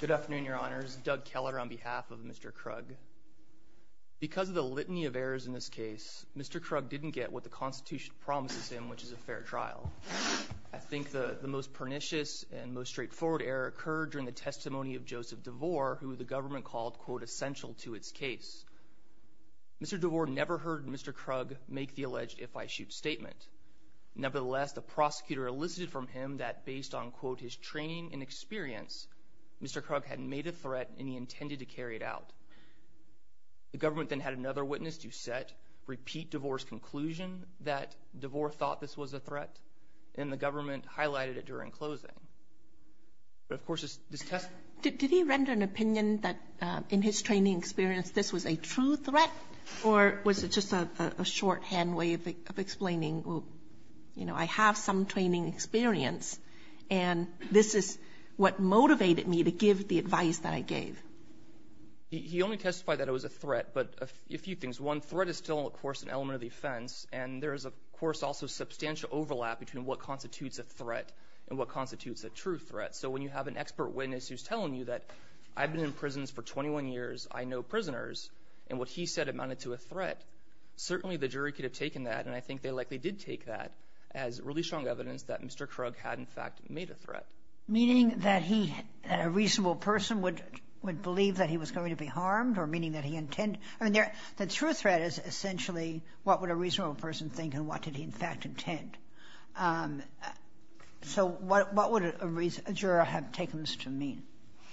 Good afternoon your honors, Doug Keller on behalf of Mr. Krug. Because of the litany of errors in this case, Mr. Krug didn't get what the Constitution promises him, which is a fair trial. I think the the most pernicious and most straightforward error occurred during the testimony of Joseph DeVore, who the government called quote essential to its case. Mr. DeVore never heard Mr. Krug make the alleged if I shoot statement. Nevertheless, the prosecutor elicited from him that based on quote his training and experience, Mr. Krug had made a threat and he intended to carry it out. The government then had another witness to set repeat DeVore's conclusion that DeVore thought this was a threat, and the government highlighted it during closing. But of course this test... Did he render an opinion that in his training experience this was a true threat, or was it just a shorthand way of explaining, you know, I have some training experience and this is what motivated me to give the advice that I gave? He only testified that it was a threat, but a few things. One threat is still of course an element of the offense, and there is of course also substantial overlap between what constitutes a threat and what constitutes a true threat. So when you have an expert witness who's telling you that I've been in prisons for 21 years, I know that's a threat. Certainly the jury could have taken that, and I think they likely did take that as really strong evidence that Mr. Krug had in fact made a threat. Meaning that a reasonable person would believe that he was going to be harmed, or meaning that he intended... I mean, the true threat is essentially what would a reasonable person think and what did he in fact intend. So what would a jury have taken this to mean?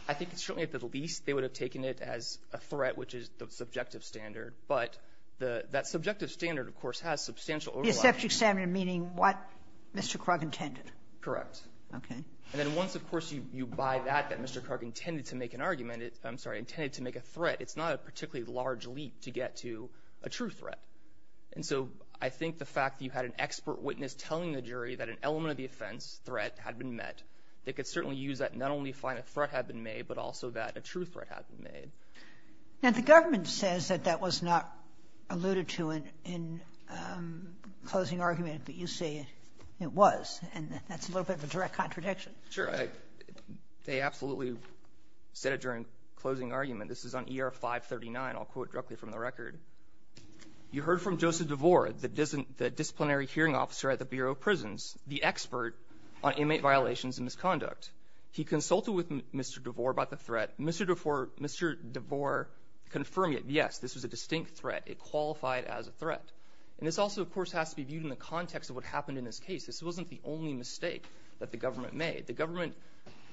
I think certainly at the least they would have taken it as a threat, which is the subjective standard, but that subjective standard of course has substantial overlap. Sotomayor The subject standard meaning what Mr. Krug intended. Gannon Correct. Sotomayor Okay. Gannon And then once of course you buy that, that Mr. Krug intended to make an argument it's, I'm sorry, intended to make a threat, it's not a particularly large leap to get to a true threat. And so I think the fact that you had an expert witness telling the jury that an element of the offense, threat, had been met, they could certainly use that not only to say that a threat had been made, but also that a true threat had been made. Sotomayor Now the government says that that was not alluded to in closing argument, but you say it was. And that's a little bit of a direct contradiction. Gannon Sure. They absolutely said it during closing argument. This is on ER 539. I'll quote directly from the record. You heard from Joseph DeVore, the disciplinary hearing officer at the Mr. DeVore about the threat. Mr. DeVore confirmed it. Yes, this was a distinct threat. It qualified as a threat. And this also of course has to be viewed in the context of what happened in this case. This wasn't the only mistake that the government made. The government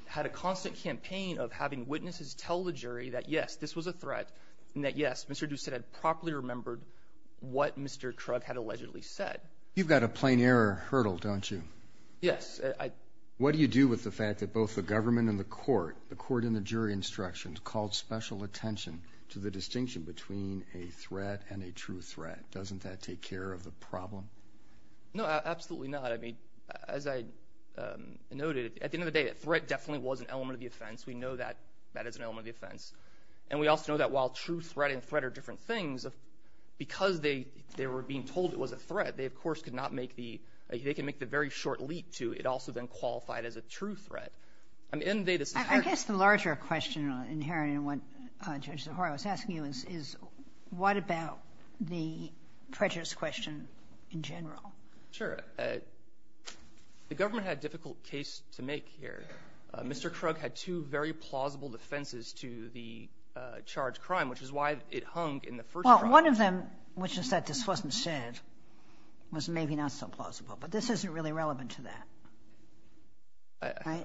had a constant campaign of having witnesses tell the jury that yes, this was a threat, and that yes, Mr. DeVore said it properly remembered what Mr. Krug had allegedly said. Roberts You've got a plain error hurdle, don't you? Gannon Yes. Roberts What do you do with the fact that both the government and the court, the court and the jury instructions called special attention to the distinction between a threat and a true threat? Doesn't that take care of the problem? Gannon No, absolutely not. I mean, as I noted, at the end of the day, that threat definitely was an element of the offense. We know that that is an element of the offense. And we also know that while true threat and threat are different things, because they were being told it was a very short leap to, it also then qualified as a true threat. I mean, at the end of the day, this is hard to do. Kagan I guess the larger question inherent in what Judge DeVore was asking you is, is what about the prejudice question in general? Gannon Sure. The government had a difficult case to make here. Mr. Krug had two very plausible defenses to the charged crime, which is why it hung in the first trial. Kagan Well, one of them, which is that this wasn't said, was maybe not so plausible. But this isn't really relevant to that. Right?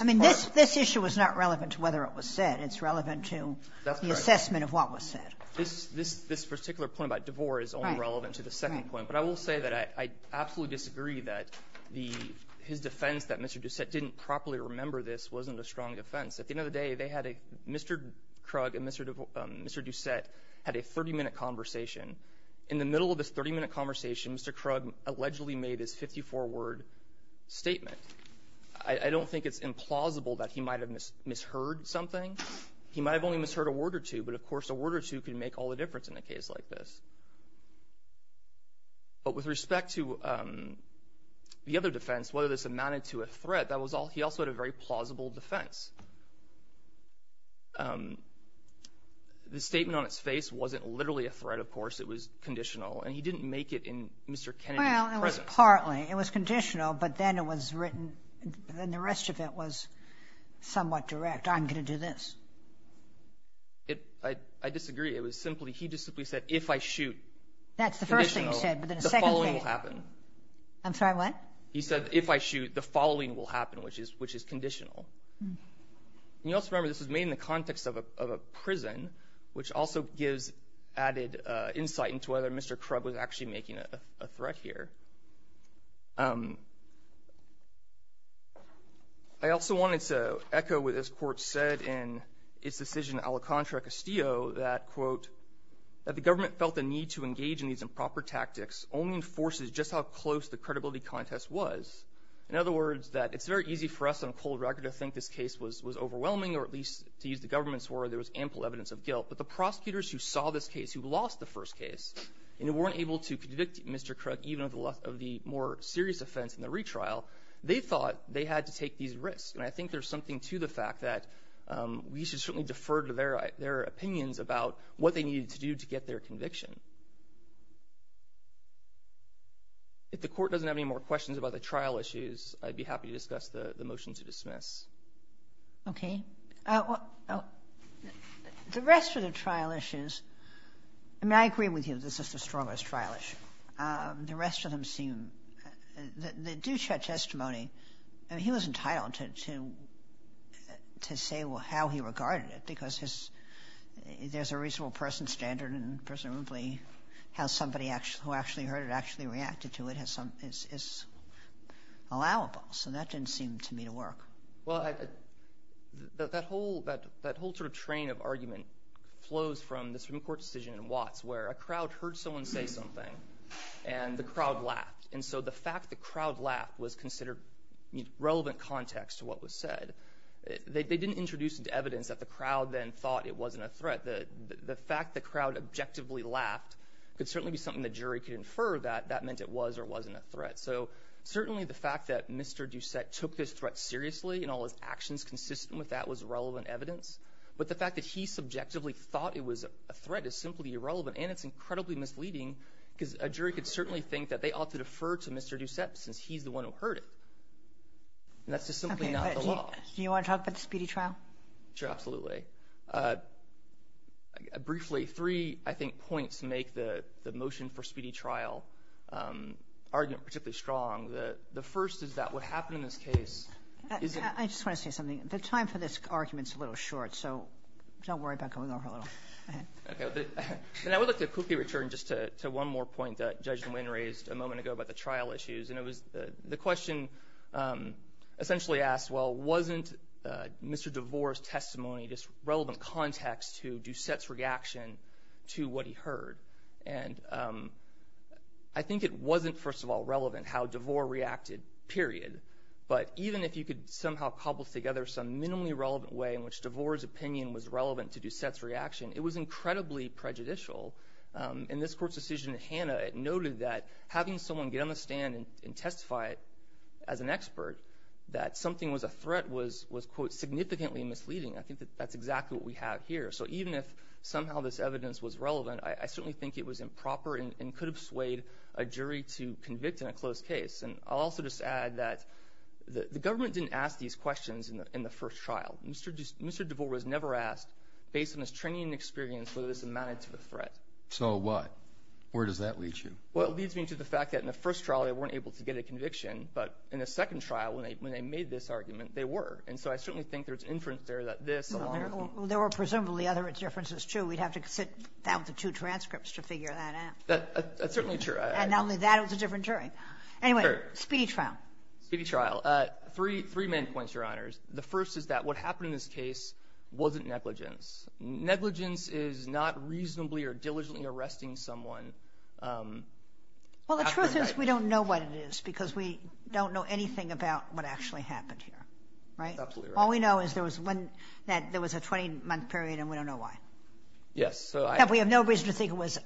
I mean, this issue is not relevant to whether it was said. It's relevant to the assessment of what was said. Gannon This particular point about DeVore is only relevant to the second point. But I will say that I absolutely disagree that his defense that Mr. Doucette didn't properly remember this wasn't a strong defense. At the end of the day, they had a — Mr. Krug and Mr. Doucette had a 30-minute conversation. In the middle of this 30-minute conversation, Mr. Krug allegedly made his 54-word statement. I don't think it's implausible that he might have misheard something. He might have only misheard a word or two, but of course a word or two could make all the difference in a case like this. But with respect to the other defense, whether this amounted to a threat, that was all — he also had a very plausible defense. The statement on its face wasn't literally a threat, of course, it was a conditional. Kagan Well, it was partly. It was conditional, but then it was written — and the rest of it was somewhat direct. I'm going to do this. Gannon I disagree. It was simply — he just simply said, if I shoot — Kagan That's the first thing he said, but then the second thing — Gannon — the following will happen. Kagan I'm sorry, what? Gannon He said, if I shoot, the following will happen, which is conditional. And you also remember this was made in the context of a prison, which also gives added insight into whether Mr. Krug was actually making a threat here. I also wanted to echo what this court said in its decision ala contra Castillo that, quote, that the government felt the need to engage in these improper tactics only enforces just how close the credibility contest was. In other words, that it's very easy for us on cold record to think this case was overwhelming, or at least, to use the government's word, there was ample evidence of guilt. But the prosecutors who saw this case, who lost the first case, and who weren't able to convict Mr. Krug, even of the more serious offense in the retrial, they thought they had to take these risks. And I think there's something to the fact that we should certainly defer to their opinions about what they needed to do to get their conviction. If the court doesn't have any more questions about the trial issues, I'd be happy to discuss the motion to dismiss. Okay. The rest of the trial issues, I mean, I agree with you that this is the strongest trial issue. The rest of them seem, the Ducett testimony, I mean, he was entitled to say how he regarded it, because there's a reasonable person standard, and presumably how somebody who actually heard it actually reacted to it is allowable. So that didn't seem to me to work. Well, that whole sort of train of argument flows from the Supreme Court decision in Watts, where a crowd heard someone say something, and the crowd laughed. And so the fact the crowd laughed was considered relevant context to what was said. They didn't introduce into evidence that the crowd then thought it wasn't a threat. The fact the crowd objectively laughed could certainly be something the jury could infer that that meant it was or wasn't a threat. So certainly the fact that Mr. Ducett took this threat seriously and all his actions consistent with that was relevant evidence. But the fact that he subjectively thought it was a threat is simply irrelevant, and it's incredibly misleading, because a jury could certainly think that they ought to defer to Mr. Ducett, since he's the one who heard it. And that's just simply not the law. Okay. Do you want to talk about the Speedy Trial? Sure, absolutely. Briefly, three, I think, points make the motion for Speedy Trial argument particularly strong. The first is that what happened in this case is a... I just want to say something. The time for this argument is a little short, so don't worry about going over a little. Go ahead. Okay. And I would like to quickly return just to one more point that Judge Nguyen raised a moment ago about the trial issues. And it was the question essentially asked, well, wasn't Mr. DeVore's testimony just relevant context to Ducett's reaction to what he heard? And I think it wasn't, first of all, relevant how DeVore reacted, period. But even if you could somehow cobble together some minimally relevant way in which DeVore's opinion was relevant to Ducett's reaction, it was incredibly prejudicial. In this court's decision in Hannah, it noted that having someone get on the stand and testify as an expert that something was a threat was, quote, significantly misleading. I think that that's exactly what we have here. So even if somehow this evidence was relevant, I certainly think it was improper and could have swayed a jury to convict in a closed case. And I'll also just add that the government didn't ask these questions in the first trial. Mr. DeVore was never asked, based on his training and experience, whether this amounted to a threat. So what? Where does that lead you? Well, it leads me to the fact that in the first trial, they weren't able to get a conviction. But in the second trial, when they made this argument, they were. And so I certainly think there's inference there that this... There were presumably other differences, too. We'd have to sit down with the two transcripts to figure that out. That's certainly true. And not only that, it was a different jury. Anyway, speedy trial. Speedy trial. Three main points, Your Honors. The first is that what happened in this case wasn't negligence. Negligence is not reasonably or diligently arresting someone. Well, the truth is we don't know what it is, because we don't know anything about what actually happened here. Right? Absolutely right. All we know is there was a 20-month period, and we don't know why. Yes, so I... We have no reason to think it was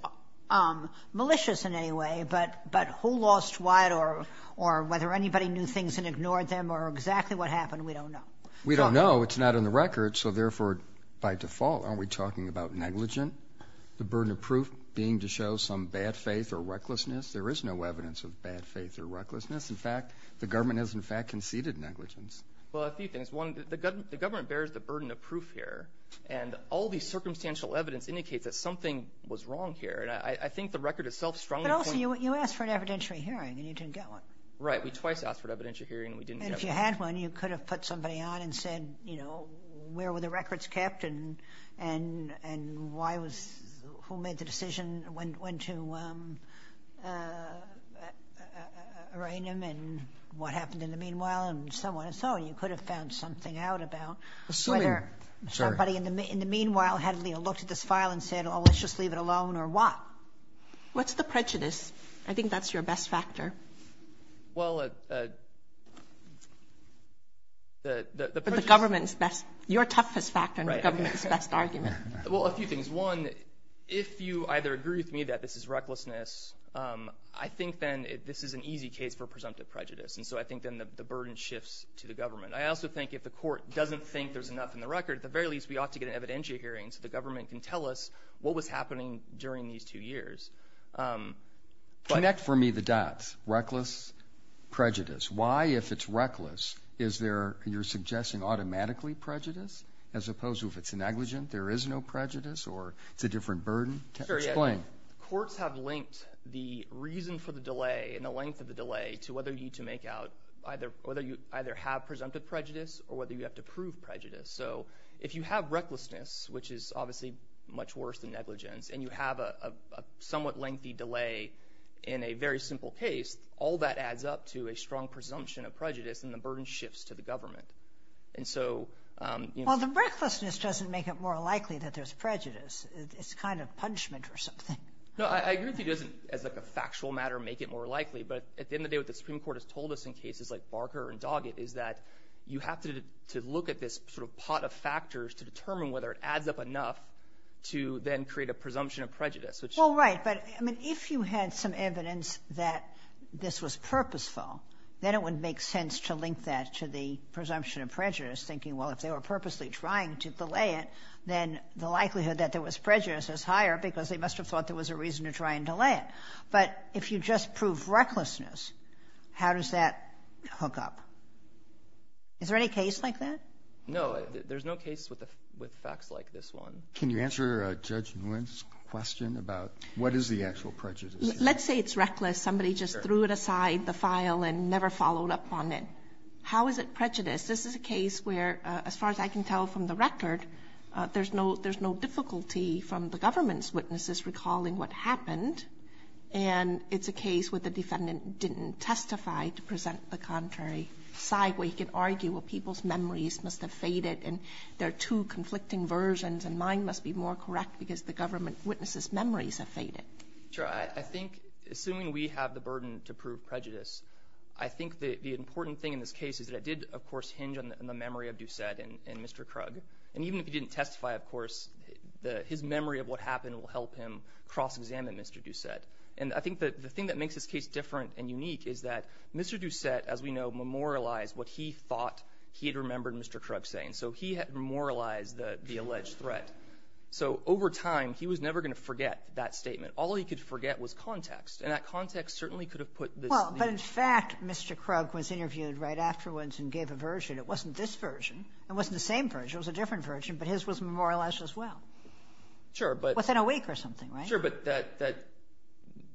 malicious in any way, but who lost what or whether anybody knew things and ignored them or exactly what happened, we don't know. We don't know. It's not on the record. So therefore, by default, aren't we talking about negligent? The burden of proof being to show some bad faith or recklessness? There is no evidence of bad faith or recklessness. In fact, the government has, in fact, conceded negligence. Well, a few things. One, the government bears the burden of proof here, and all the circumstantial evidence indicates that something was wrong here, and I think the record itself strongly points... But also, you asked for an evidentiary hearing, and you didn't get one. Right. We twice asked for an evidentiary hearing, and we didn't get one. And if you had one, you could have put somebody on and said, you know, where were the records kept and why was... who made the decision when to arraign them and what happened in the meanwhile, and so on and so on. You could have found something out about whether... Assuming, I'm sorry. ...somebody in the meanwhile had, you know, looked at this file and said, oh, let's just leave it alone, or what? What's the prejudice? I think that's your best factor. Well, the prejudice... The government's best... your toughest factor and the government's best argument. Well, a few things. One, if you either agree with me that this is recklessness, I think then this is an easy case for presumptive prejudice, and so I think then the burden shifts to the government. I also think if the court doesn't think there's enough in the record, at the very least, we ought to get an evidentiary hearing so the government can tell us what was happening during these two years. Connect for me the dots. Reckless, prejudice. Why, if it's reckless, is there, you're suggesting, automatically prejudice, as opposed to if it's negligent, there is no prejudice, or it's a different burden? Sure, yeah. Explain. Courts have linked the reason for the delay and the length of the delay to whether you need to make out, whether you either have presumptive prejudice or whether you have to prove prejudice. So if you have recklessness, which is obviously much worse than negligence, and you have a somewhat lengthy delay in a very simple case, all that adds up to a strong presumption of prejudice and the burden shifts to the government. And so... Well, the recklessness doesn't make it more likely that there's prejudice. It's kind of punishment or something. No, I agree with you it doesn't, as like a factual matter, make it more likely. But at the end of the day, what the Supreme Court has told us in cases like Barker and Doggett is that you have to look at this sort of pot of factors to determine whether it adds up enough to then create a presumption of prejudice, which... Well, right. But, I mean, if you had some evidence that this was purposeful, then it would make sense to link that to the presumption of prejudice, thinking, well, if they were prejudiced, it's higher because they must have thought there was a reason to try and delay it. But if you just prove recklessness, how does that hook up? Is there any case like that? No. There's no case with facts like this one. Can you answer Judge Nguyen's question about what is the actual prejudice? Let's say it's reckless. Somebody just threw it aside, the file, and never followed up on it. How is it prejudice? This is a case where, as far as I can tell from the government's witnesses recalling what happened, and it's a case where the defendant didn't testify to present the contrary side, where you could argue, well, people's memories must have faded, and there are two conflicting versions, and mine must be more correct because the government witness's memories have faded. Sure. I think, assuming we have the burden to prove prejudice, I think the important thing in this case is that it did, of course, hinge on the memory of Doucette and Mr. Krug. And even if he didn't testify, of course, his memory of what happened will help him cross-examine Mr. Doucette. And I think the thing that makes this case different and unique is that Mr. Doucette, as we know, memorialized what he thought he had remembered Mr. Krug saying. So he had memorialized the alleged threat. So over time, he was never going to forget that statement. All he could forget was context. And that context certainly could have put this at ease. Well, but in fact, Mr. Krug was interviewed right afterwards and gave a version. It wasn't this version. It wasn't the same version. It was a different version. But his was memorialized as well. Sure. Within a week or something, right? Sure. But that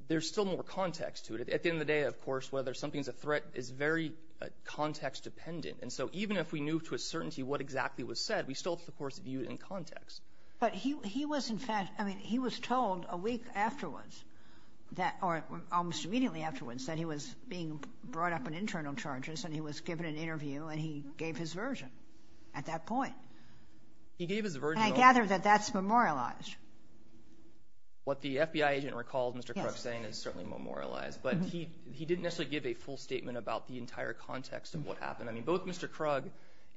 there's still more context to it. At the end of the day, of course, whether something's a threat is very context-dependent. And so even if we knew to a certainty what exactly was said, we still, of course, viewed it in context. But he was, in fact, I mean, he was told a week afterwards that or almost immediately afterwards that he was being brought up in internal charges, and he was given an interview, and he gave his version at that point. He gave his version. And I gather that that's memorialized. What the FBI agent recalls Mr. Krug saying is certainly memorialized. But he didn't necessarily give a full statement about the entire context of what happened. I mean, both Mr. Krug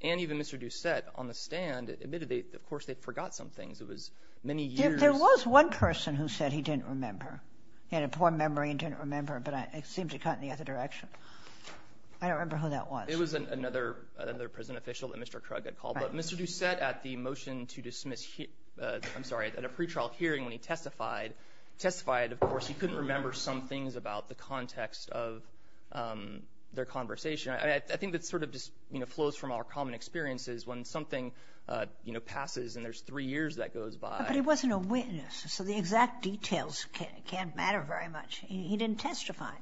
and even Mr. Doucette on the stand admitted they, of course, they forgot some things. It was many years. There was one person who said he didn't remember. He had a poor memory and didn't remember, but it seemed to cut in the other direction. I don't remember who that was. It was another prison official that Mr. Krug had called. But Mr. Doucette at the motion to dismiss, I'm sorry, at a pretrial hearing when he testified, testified, of course, he couldn't remember some things about the context of their conversation. I think that sort of just flows from our common experiences when something, you know, passes and there's three years that goes by. But he wasn't a witness, so the exact details can't matter very much. He didn't testify.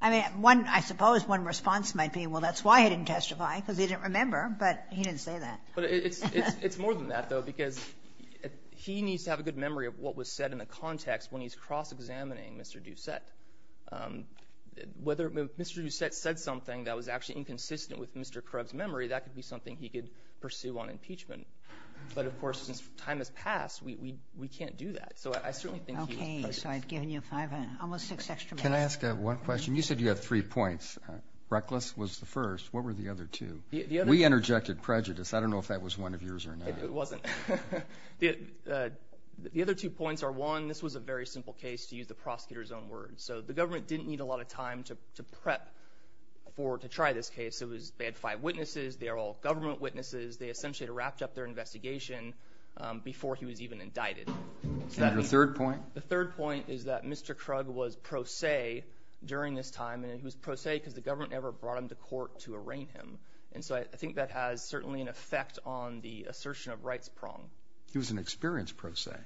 I mean, one, I suppose one response might be, well, that's why he didn't testify, because he didn't remember, but he didn't say that. But it's more than that, though, because he needs to have a good memory of what was said in the context when he's cross-examining Mr. Doucette. Whether Mr. Doucette said something that was actually inconsistent with Mr. Krug's memory, that could be something he could pursue on impeachment. But, of course, since time has passed, we can't do that. So I certainly think he was prejudiced. Okay. So I've given you five, almost six, extra minutes. Can I ask one question? You said you had three points. Reckless was the first. What were the other two? We interjected prejudice. I don't know if that was one of yours or not. It wasn't. The other two points are, one, this was a very simple case, to use the prosecutor's own words. So the government didn't need a lot of time to prep for, to try this case. It was, they had five witnesses. They are all government witnesses. They essentially had wrapped up their investigation before he was even indicted. Is that your third point? The third point is that Mr. Krug was pro se during this time, and he was pro se because the government never brought him to court to arraign him. And so I think that has certainly an effect on the assertion of rights prong. He was an experienced pro se.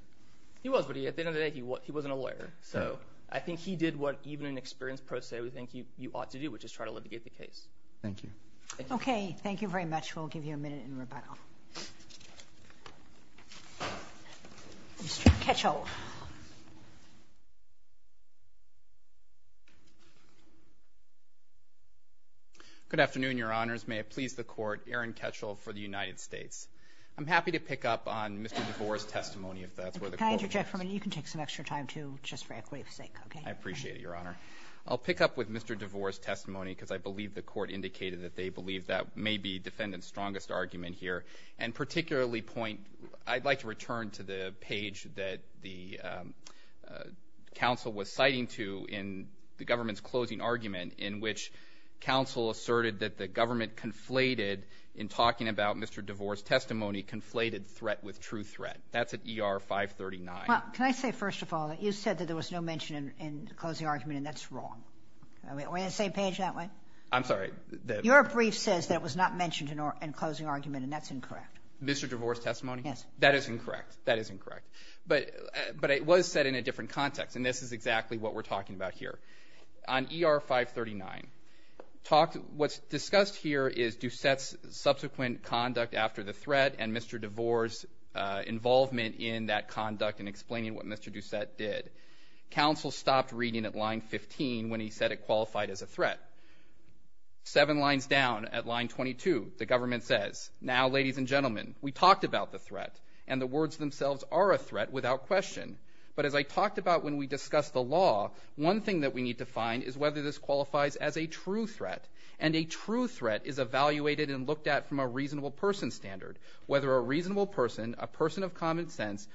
He was, but at the end of the day, he wasn't a lawyer. So I think he did what even an experienced pro se would think you ought to do, which is try to litigate the case. Thank you. Okay. Thank you very much. We'll give you a minute in rebuttal. Mr. Ketchel. Good afternoon, Your Honors. May it please the Court, Aaron Ketchel for the United States. I'm happy to pick up on Mr. DeVore's testimony, if that's where the quote comes from. Can I interject for a minute? You can take some extra time, too, just for equity's sake, okay? I appreciate it, Your Honor. I'll pick up with Mr. DeVore's testimony, because I believe the Court indicated that they believe that may be Defendant's strongest argument here. And particularly point — I'd like to return to the page that the counsel was citing to in the government's closing argument, in which counsel asserted that the government conflated, in talking about Mr. DeVore's testimony, conflated threat with true threat. That's at ER 539. Well, can I say, first of all, that you said that there was no mention in the closing argument, and that's wrong. Are we on the same page that way? I'm sorry. Your brief says that it was not mentioned in closing argument, and that's incorrect. Mr. DeVore's testimony? Yes. That is incorrect. That is incorrect. But it was said in a different context. And this is exactly what we're talking about here. On ER 539, what's discussed here is Doucette's subsequent conduct after the threat and Mr. DeVore's involvement in that conduct in explaining what Mr. Doucette did. Counsel stopped reading at line 15 when he said it qualified as a threat. Seven lines down, at line 22, the government says, Now, ladies and gentlemen, we talked about the threat, and the words themselves are a threat without question. But as I talked about when we discussed the law, one thing that we need to find is whether this qualifies as a true threat. And a true threat is evaluated and looked at from a reasonable person standard, whether a reasonable person, a person of common The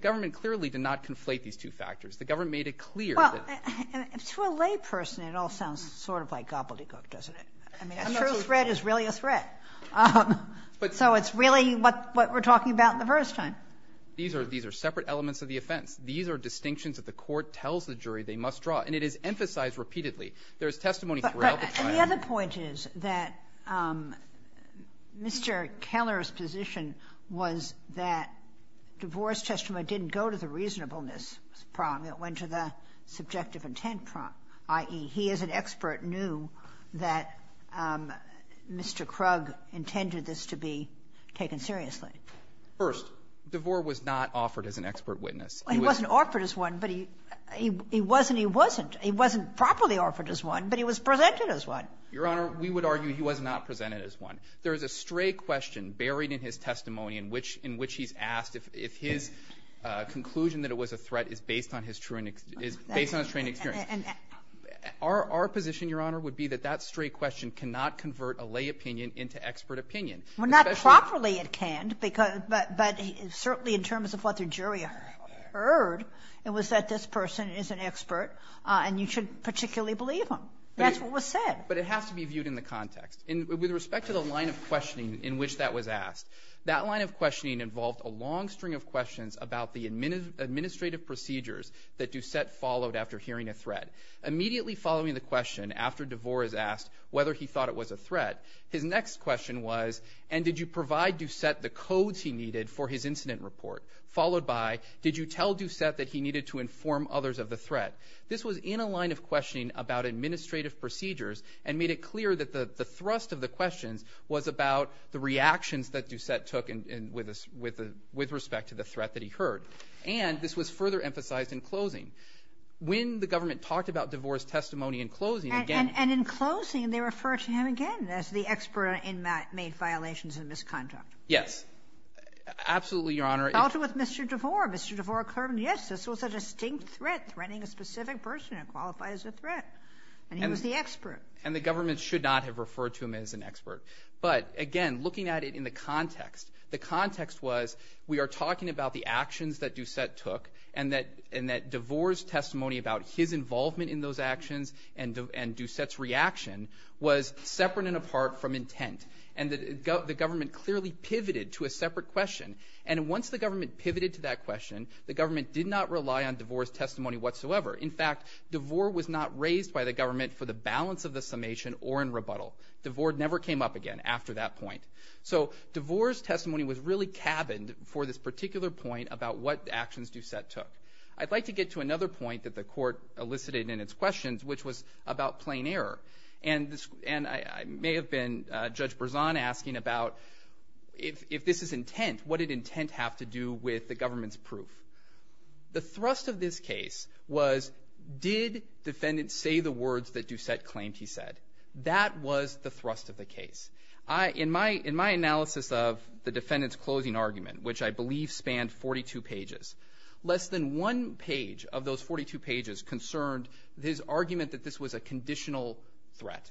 government clearly did not conflate these two factors. The government made it clear that to a layperson, it all sounds sort of like gobbledygook, doesn't it? I mean, a true threat is really a threat. So it's really what we're talking about in the first time. These are separate elements of the offense. These are distinctions that the court tells the jury they must draw, and it is emphasized repeatedly. There is testimony throughout the trial. The other point is that Mr. Keller's position was that DeVore's testimony didn't go to the reasonableness prong. It went to the subjective intent prong, i.e., he as an expert knew that Mr. Krug intended this to be taken seriously. First, DeVore was not offered as an expert witness. He wasn't offered as one, but he wasn't. He wasn't properly offered as one, but he was presented as one. Your Honor, we would argue he was not presented as one. There is a stray question buried in his testimony in which he's asked if his conclusion that it was a threat is based on his true and his – based on his trained experience. Our position, Your Honor, would be that that stray question cannot convert a lay opinion into expert opinion. Well, not properly it can't, but certainly in terms of what the jury heard, it was that this person is an expert and you should particularly believe him. That's what was said. But it has to be viewed in the context. With respect to the line of questioning in which that was asked, that line of questioning involved a long string of questions about the administrative procedures that Doucette followed after hearing a threat. Immediately following the question, after DeVore is asked whether he thought it was a threat, his next question was, and did you provide Doucette the codes he needed for his This was in a line of questioning about administrative procedures and made it clear that the thrust of the questions was about the reactions that Doucette took and – with respect to the threat that he heard. And this was further emphasized in closing. When the government talked about DeVore's testimony in closing, again… And in closing, they refer to him again as the expert in made violations and misconduct. Yes. Absolutely, Your Honor. They dealt with Mr. DeVore. Mr. DeVore confirmed, yes, this was a distinct threat, threatening a specific person that qualifies as a threat, and he was the expert. And the government should not have referred to him as an expert. But again, looking at it in the context, the context was we are talking about the actions that Doucette took and that DeVore's testimony about his involvement in those actions and Doucette's reaction was separate and apart from intent. And the government clearly pivoted to a separate question. And once the government pivoted to that question, the government did not rely on DeVore's testimony whatsoever. In fact, DeVore was not raised by the government for the balance of the summation or in rebuttal. DeVore never came up again after that point. So DeVore's testimony was really cabined for this particular point about what actions Doucette took. I'd like to get to another point that the Court elicited in its questions, which was about plain error. And I may have been, Judge Berzon asking about if this is intent, what did intent have to do with the government's proof? The thrust of this case was did defendants say the words that Doucette claimed he said? That was the thrust of the case. In my analysis of the defendant's closing argument, which I believe spanned 42 pages, less than one page of those 42 pages concerned his argument that this was a conditional threat,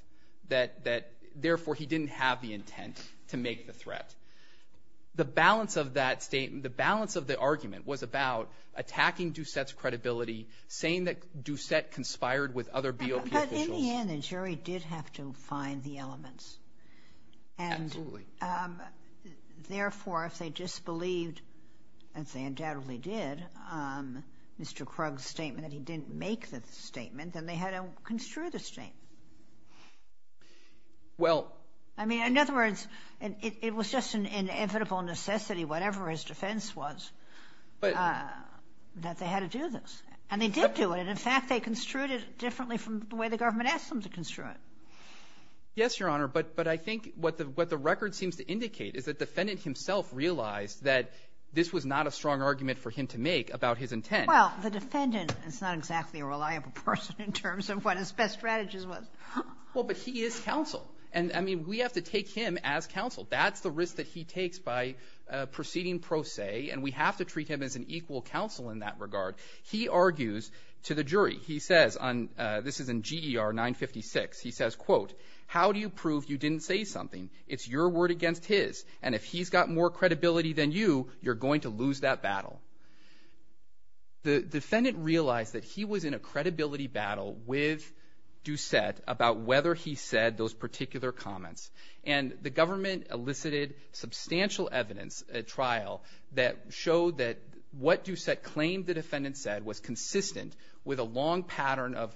that, therefore, he didn't have the intent to make the threat. The balance of that statement, the balance of the argument was about attacking Doucette's credibility, saying that Doucette conspired with other BOP officials. But in the end, the jury did have to find the elements. Absolutely. And, therefore, if they disbelieved, as they undoubtedly did, Mr. Krug's statement that he didn't make the statement, then they had to construe the statement. Well. I mean, in other words, it was just an inevitable necessity, whatever his defense was, that they had to do this. And they did do it. In fact, they construed it differently from the way the government asked them to construe it. Yes, Your Honor. But I think what the record seems to indicate is that the defendant himself realized that this was not a strong argument for him to make about his intent. Well, the defendant is not exactly a reliable person in terms of what his best strategy was. Well, but he is counsel. And, I mean, we have to take him as counsel. That's the risk that he takes by proceeding pro se. And we have to treat him as an equal counsel in that regard. He argues to the jury, he says on, this is in GER 956, he says, quote, how do you prove you didn't say something? It's your word against his. And if he's got more credibility than you, you're going to lose that battle. The defendant realized that he was in a credibility battle with Doucette about whether he said those particular comments. And the government elicited substantial evidence at trial that showed that what Doucette claimed the defendant said was consistent with a long pattern of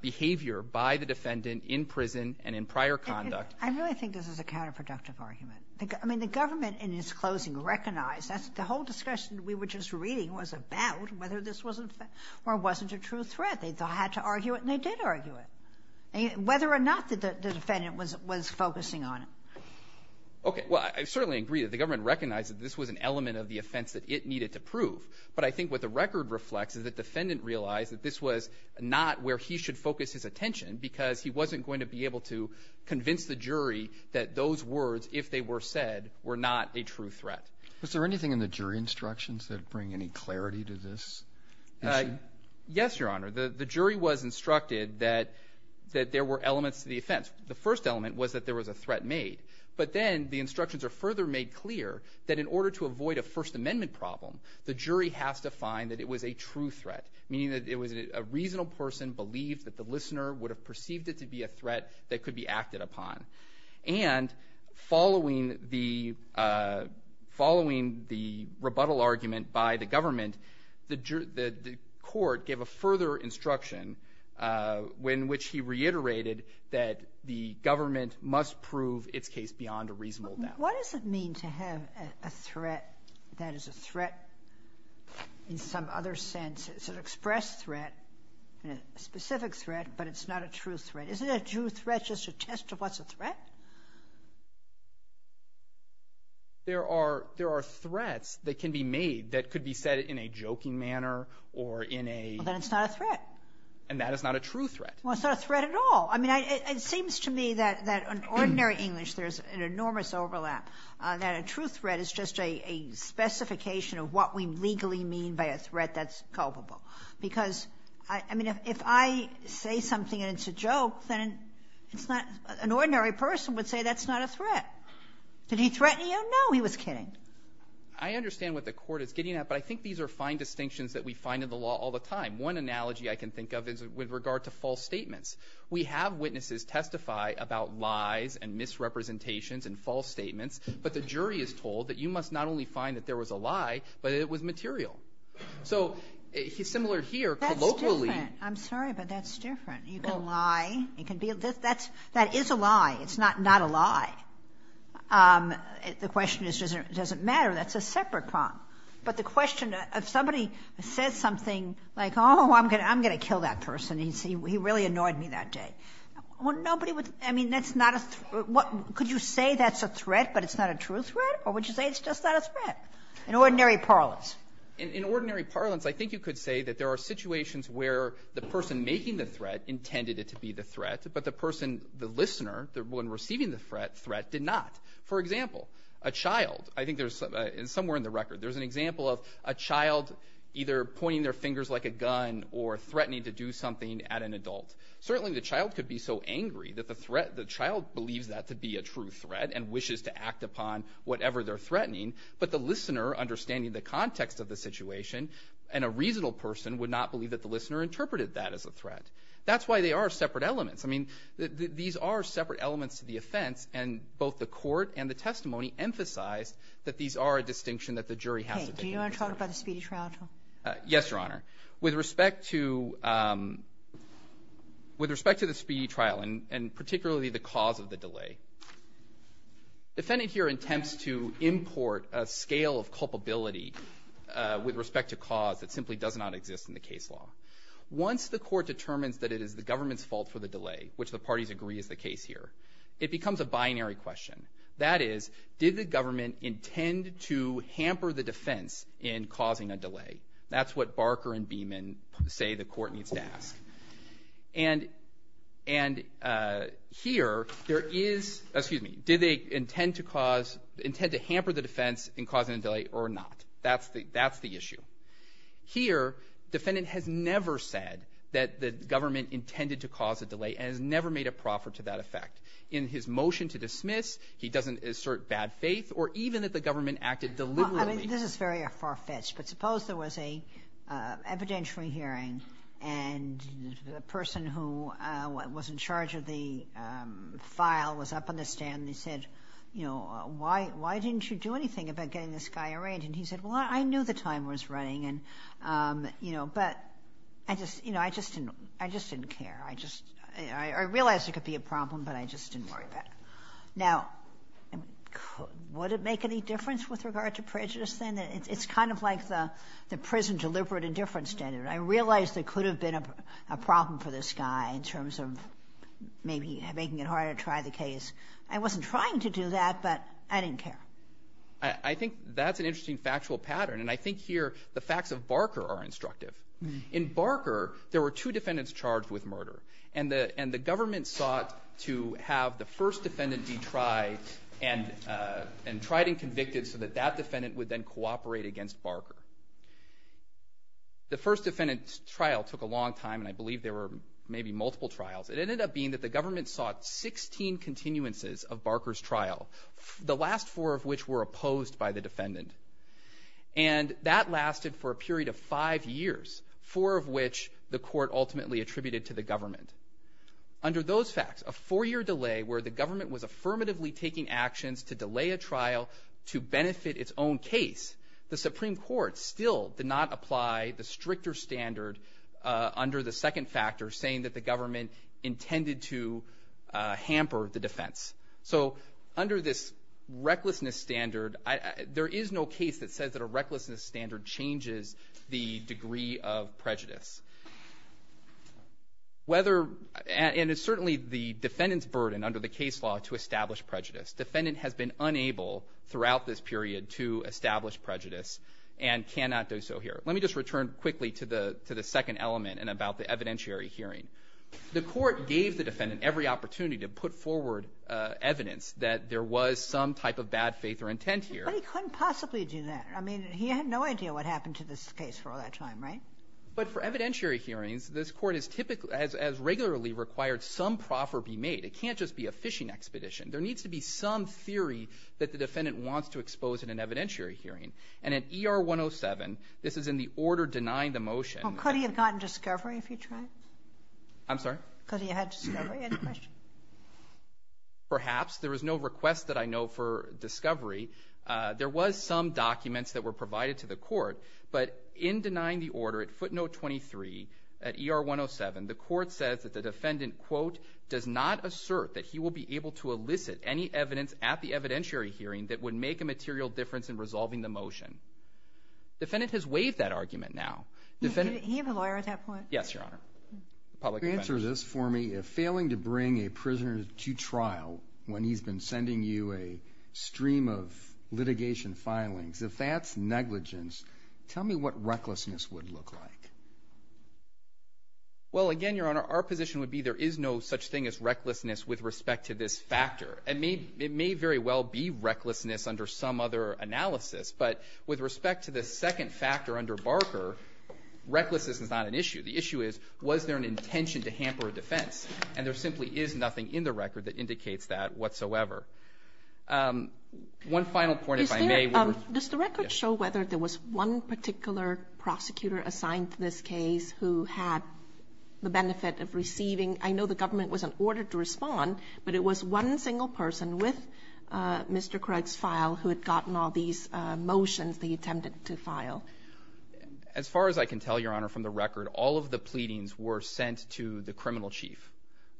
behavior by the defendant in prison and in prior conduct. I really think this is a counterproductive argument. I mean, the government in its closing recognized that the whole discussion we were just reading was about whether this was an offense or wasn't a true threat. They had to argue it, and they did argue it. Whether or not the defendant was focusing on it. Okay. Well, I certainly agree that the government recognized that this was an element of the offense that it needed to prove. But I think what the record reflects is the defendant realized that this was not where he should focus his attention because he wasn't going to be able to convince the jury that those words, if they were said, were not a true threat. Was there anything in the jury instructions that bring any clarity to this issue? Yes, Your Honor. The jury was instructed that there were elements to the offense. The first element was that there was a threat made. But then the instructions are further made clear that in order to avoid a First Amendment problem, the jury has to find that it was a true threat, meaning that it was a reasonable person who believed that the listener would have perceived it to be a threat that could be acted upon. And following the rebuttal argument by the government, the court gave a further instruction in which he reiterated that the government must prove its case beyond a reasonable doubt. What does it mean to have a threat that is a threat in some other sense? It's an expressed threat, a specific threat, but it's not a true threat. Isn't a true threat just a test of what's a threat? There are threats that can be made that could be said in a joking manner or in a — Well, then it's not a threat. And that is not a true threat. Well, it's not a threat at all. I mean, it seems to me that in ordinary English there's an enormous overlap, that a specification of what we legally mean by a threat that's culpable. Because, I mean, if I say something and it's a joke, then it's not — an ordinary person would say that's not a threat. Did he threaten you? No, he was kidding. I understand what the court is getting at, but I think these are fine distinctions that we find in the law all the time. One analogy I can think of is with regard to false statements. We have witnesses testify about lies and misrepresentations and false statements, but the jury is told that you must not only find that there was a lie, but that it was material. So similar here, colloquially — That's different. I'm sorry, but that's different. You can lie. It can be — that is a lie. It's not a lie. The question is, does it matter? That's a separate problem. But the question — if somebody says something like, oh, I'm going to kill that person. He really annoyed me that day. Well, nobody would — I mean, that's not a — could you say that's a threat, but it's not a true threat? Or would you say it's just not a threat? In ordinary parlance. In ordinary parlance, I think you could say that there are situations where the person making the threat intended it to be the threat, but the person — the listener, the one receiving the threat, did not. For example, a child — I think there's — somewhere in the record, there's an example of a child either pointing their fingers like a gun or threatening to do something at an adult. Certainly the child could be so angry that the threat — could act upon whatever they're threatening, but the listener, understanding the context of the situation, and a reasonable person would not believe that the listener interpreted that as a threat. That's why they are separate elements. I mean, these are separate elements to the offense, and both the court and the testimony emphasized that these are a distinction that the jury has to make. Do you want to talk about the speedy trial, too? Yes, Your Honor. With respect to — with respect to the speedy trial, and particularly the cause of the delay, defendant here attempts to import a scale of culpability with respect to cause that simply does not exist in the case law. Once the court determines that it is the government's fault for the delay, which the parties agree is the case here, it becomes a binary question. That is, did the government intend to hamper the defense in causing a delay? That's what Barker and Beeman say the court needs to ask. And here, there is — excuse me. Did they intend to cause — intend to hamper the defense in causing a delay or not? That's the issue. Here, defendant has never said that the government intended to cause a delay and has never made a proffer to that effect. In his motion to dismiss, he doesn't assert bad faith, or even that the government acted deliberately. This is very far-fetched, but suppose there was an evidentiary hearing and the person who was in charge of the file was up on the stand and he said, you know, why didn't you do anything about getting this guy arraigned? And he said, well, I knew the time was running and, you know, but I just — you know, I just didn't care. I just — I realized it could be a problem, but I just didn't worry about it. Now, would it make any difference with regard to prejudice then? It's kind of like the prison deliberate indifference standard. I realize there could have been a problem for this guy in terms of maybe making it harder to try the case. I wasn't trying to do that, but I didn't care. I think that's an interesting factual pattern, and I think here the facts of Barker are instructive. In Barker, there were two defendants charged with murder, and the government sought to have the first defendant be tried and tried and convicted so that that defendant would then cooperate against Barker. The first defendant's trial took a long time, and I believe there were maybe multiple trials. It ended up being that the government sought 16 continuances of Barker's trial, the last four of which were opposed by the defendant. And that lasted for a period of five years, four of which the court ultimately attributed to the government. Under those facts, a four-year delay where the government was affirmatively taking actions to delay a trial to benefit its own case, the Supreme Court still did not apply the stricter standard under the second factor, saying that the government intended to hamper the defense. So under this recklessness standard, there is no case that says that a recklessness standard changes the degree of prejudice. And it's certainly the defendant's burden under the case law to establish prejudice. Defendant has been unable throughout this period to establish prejudice and cannot do so here. Let me just return quickly to the second element and about the evidentiary hearing. The court gave the defendant every opportunity to put forward evidence that there was some type of bad faith or intent here. But he couldn't possibly do that. I mean, he had no idea what happened to this case for all that time, right? But for evidentiary hearings, this court has regularly required some proffer be made. It can't just be a fishing expedition. There needs to be some theory that the defendant wants to expose in an evidentiary hearing. And at ER 107, this is in the order denying the motion. Could he have gotten discovery if he tried? I'm sorry? Could he have had discovery? Any question? Perhaps. There is no request that I know for discovery. There was some documents that were provided to the court. But in denying the order at footnote 23 at ER 107, the court says that the defendant, quote, does not assert that he will be able to elicit any evidence at the evidentiary hearing that would make a material difference in resolving the motion. The defendant has waived that argument now. Did he have a lawyer at that point? Yes, Your Honor. If you could answer this for me, if failing to bring a prisoner to trial when he's been sending you a stream of litigation filings, if that's negligence, tell me what recklessness would look like. Well, again, Your Honor, our position would be there is no such thing as recklessness with respect to this factor. It may very well be recklessness under some other analysis. But with respect to the second factor under Barker, recklessness is not an issue. The issue is, was there an intention to hamper a defense? And there simply is nothing in the record that indicates that whatsoever. One final point, if I may. Does the record show whether there was one particular prosecutor assigned to this case who had the benefit of receiving? I know the government was in order to respond, but it was one single person with Mr. Craig's file who had gotten all these motions they attempted to file. As far as I can tell, Your Honor, from the record, all of the pleadings were sent to the criminal chief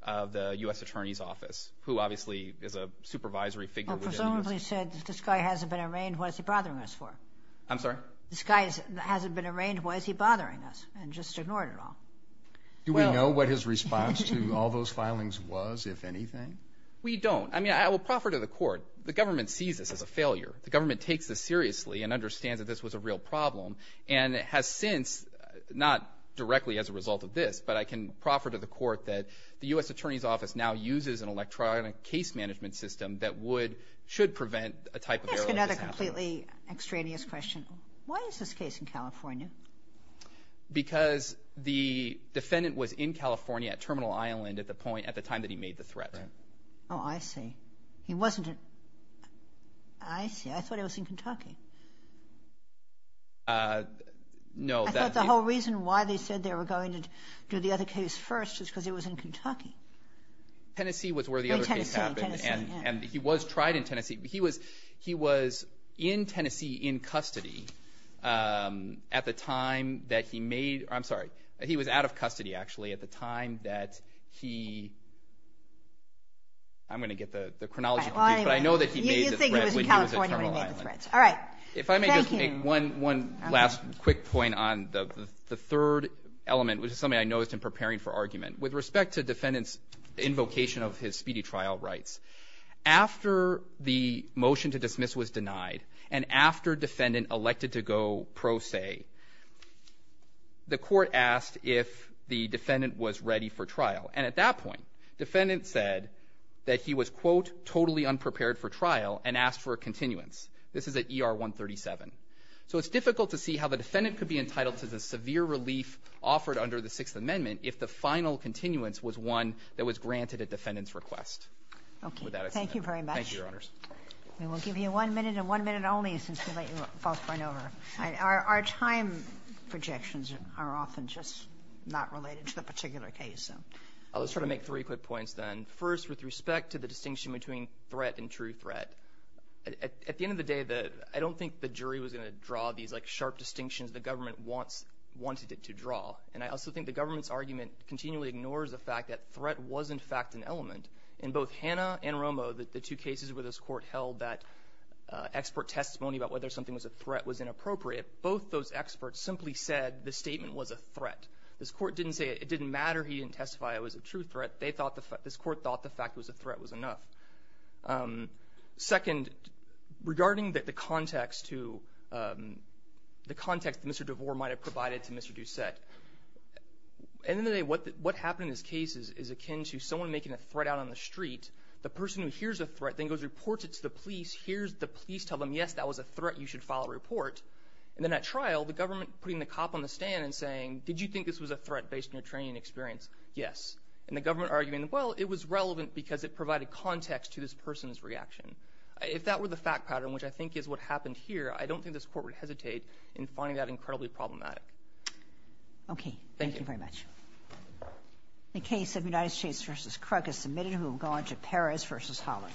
of the U.S. Attorney's Office, who obviously is a supervisory figure. Presumably said, this guy hasn't been arraigned. What is he bothering us for? I'm sorry? This guy hasn't been arraigned. Why is he bothering us? And just ignored it all. Do we know what his response to all those filings was, if anything? We don't. I mean, I will proffer to the court, the government sees this as a failure. The government takes this seriously and understands that this was a real problem and has since, not directly as a result of this, but I can proffer to the court that the U.S. Attorney's Office now uses an electronic case management system that would, should prevent a type of error like this happening. Let me ask you another completely extraneous question. Why is this case in California? Because the defendant was in California at Terminal Island at the point, at the time that he made the threat. Oh, I see. He wasn't at, I see. I thought he was in Kentucky. No. I thought the whole reason why they said they were going to do the other case first was because he was in Kentucky. Tennessee was where the other case happened. And he was tried in Tennessee. He was in Tennessee in custody at the time that he made, I'm sorry, he was out of custody actually at the time that he, I'm going to get the chronology, but I know that he made the threat when he was in Terminal Island. All right. Thank you. If I may just make one last quick point on the third element, which is something I noticed in preparing for argument. With respect to defendant's invocation of his speedy trial rights, after the motion to dismiss was denied and after defendant elected to go pro se, the court asked if the defendant was ready for trial. And at that point, defendant said that he was, quote, totally unprepared for trial and asked for a continuance. This is at ER 137. So it's difficult to see how the defendant could be entitled to the severe relief offered under the Sixth Amendment if the final continuance was one that was granted at defendant's request. Okay. Thank you very much. Thank you, Your Honors. We will give you one minute and one minute only since we let you both run over. Our time projections are often just not related to the particular case. I'll just try to make three quick points then. First, with respect to the distinction between threat and true threat, at the end of the day, I don't think the jury was going to draw these, like, And I also think the government's argument continually ignores the fact that threat was, in fact, an element. In both Hannah and Romo, the two cases where this court held that expert testimony about whether something was a threat was inappropriate, both those experts simply said the statement was a threat. This court didn't say it didn't matter, he didn't testify it was a true threat. This court thought the fact it was a threat was enough. Second, regarding the context that Mr. DeVore might have provided to Mr. Doucette, at the end of the day, what happened in this case is akin to someone making a threat out on the street. The person who hears a threat then goes and reports it to the police, hears the police tell them, yes, that was a threat, you should file a report. And then at trial, the government putting the cop on the stand and saying, did you think this was a threat based on your training and experience? Yes. And the government arguing, well, it was relevant because it provided context to this person's reaction. If that were the fact pattern, which I think is what happened here, I don't think this court would hesitate in finding that incredibly problematic. Okay. Thank you. Thank you very much. The case of United States v. Krug is submitted. We will go on to Paris v. Holland.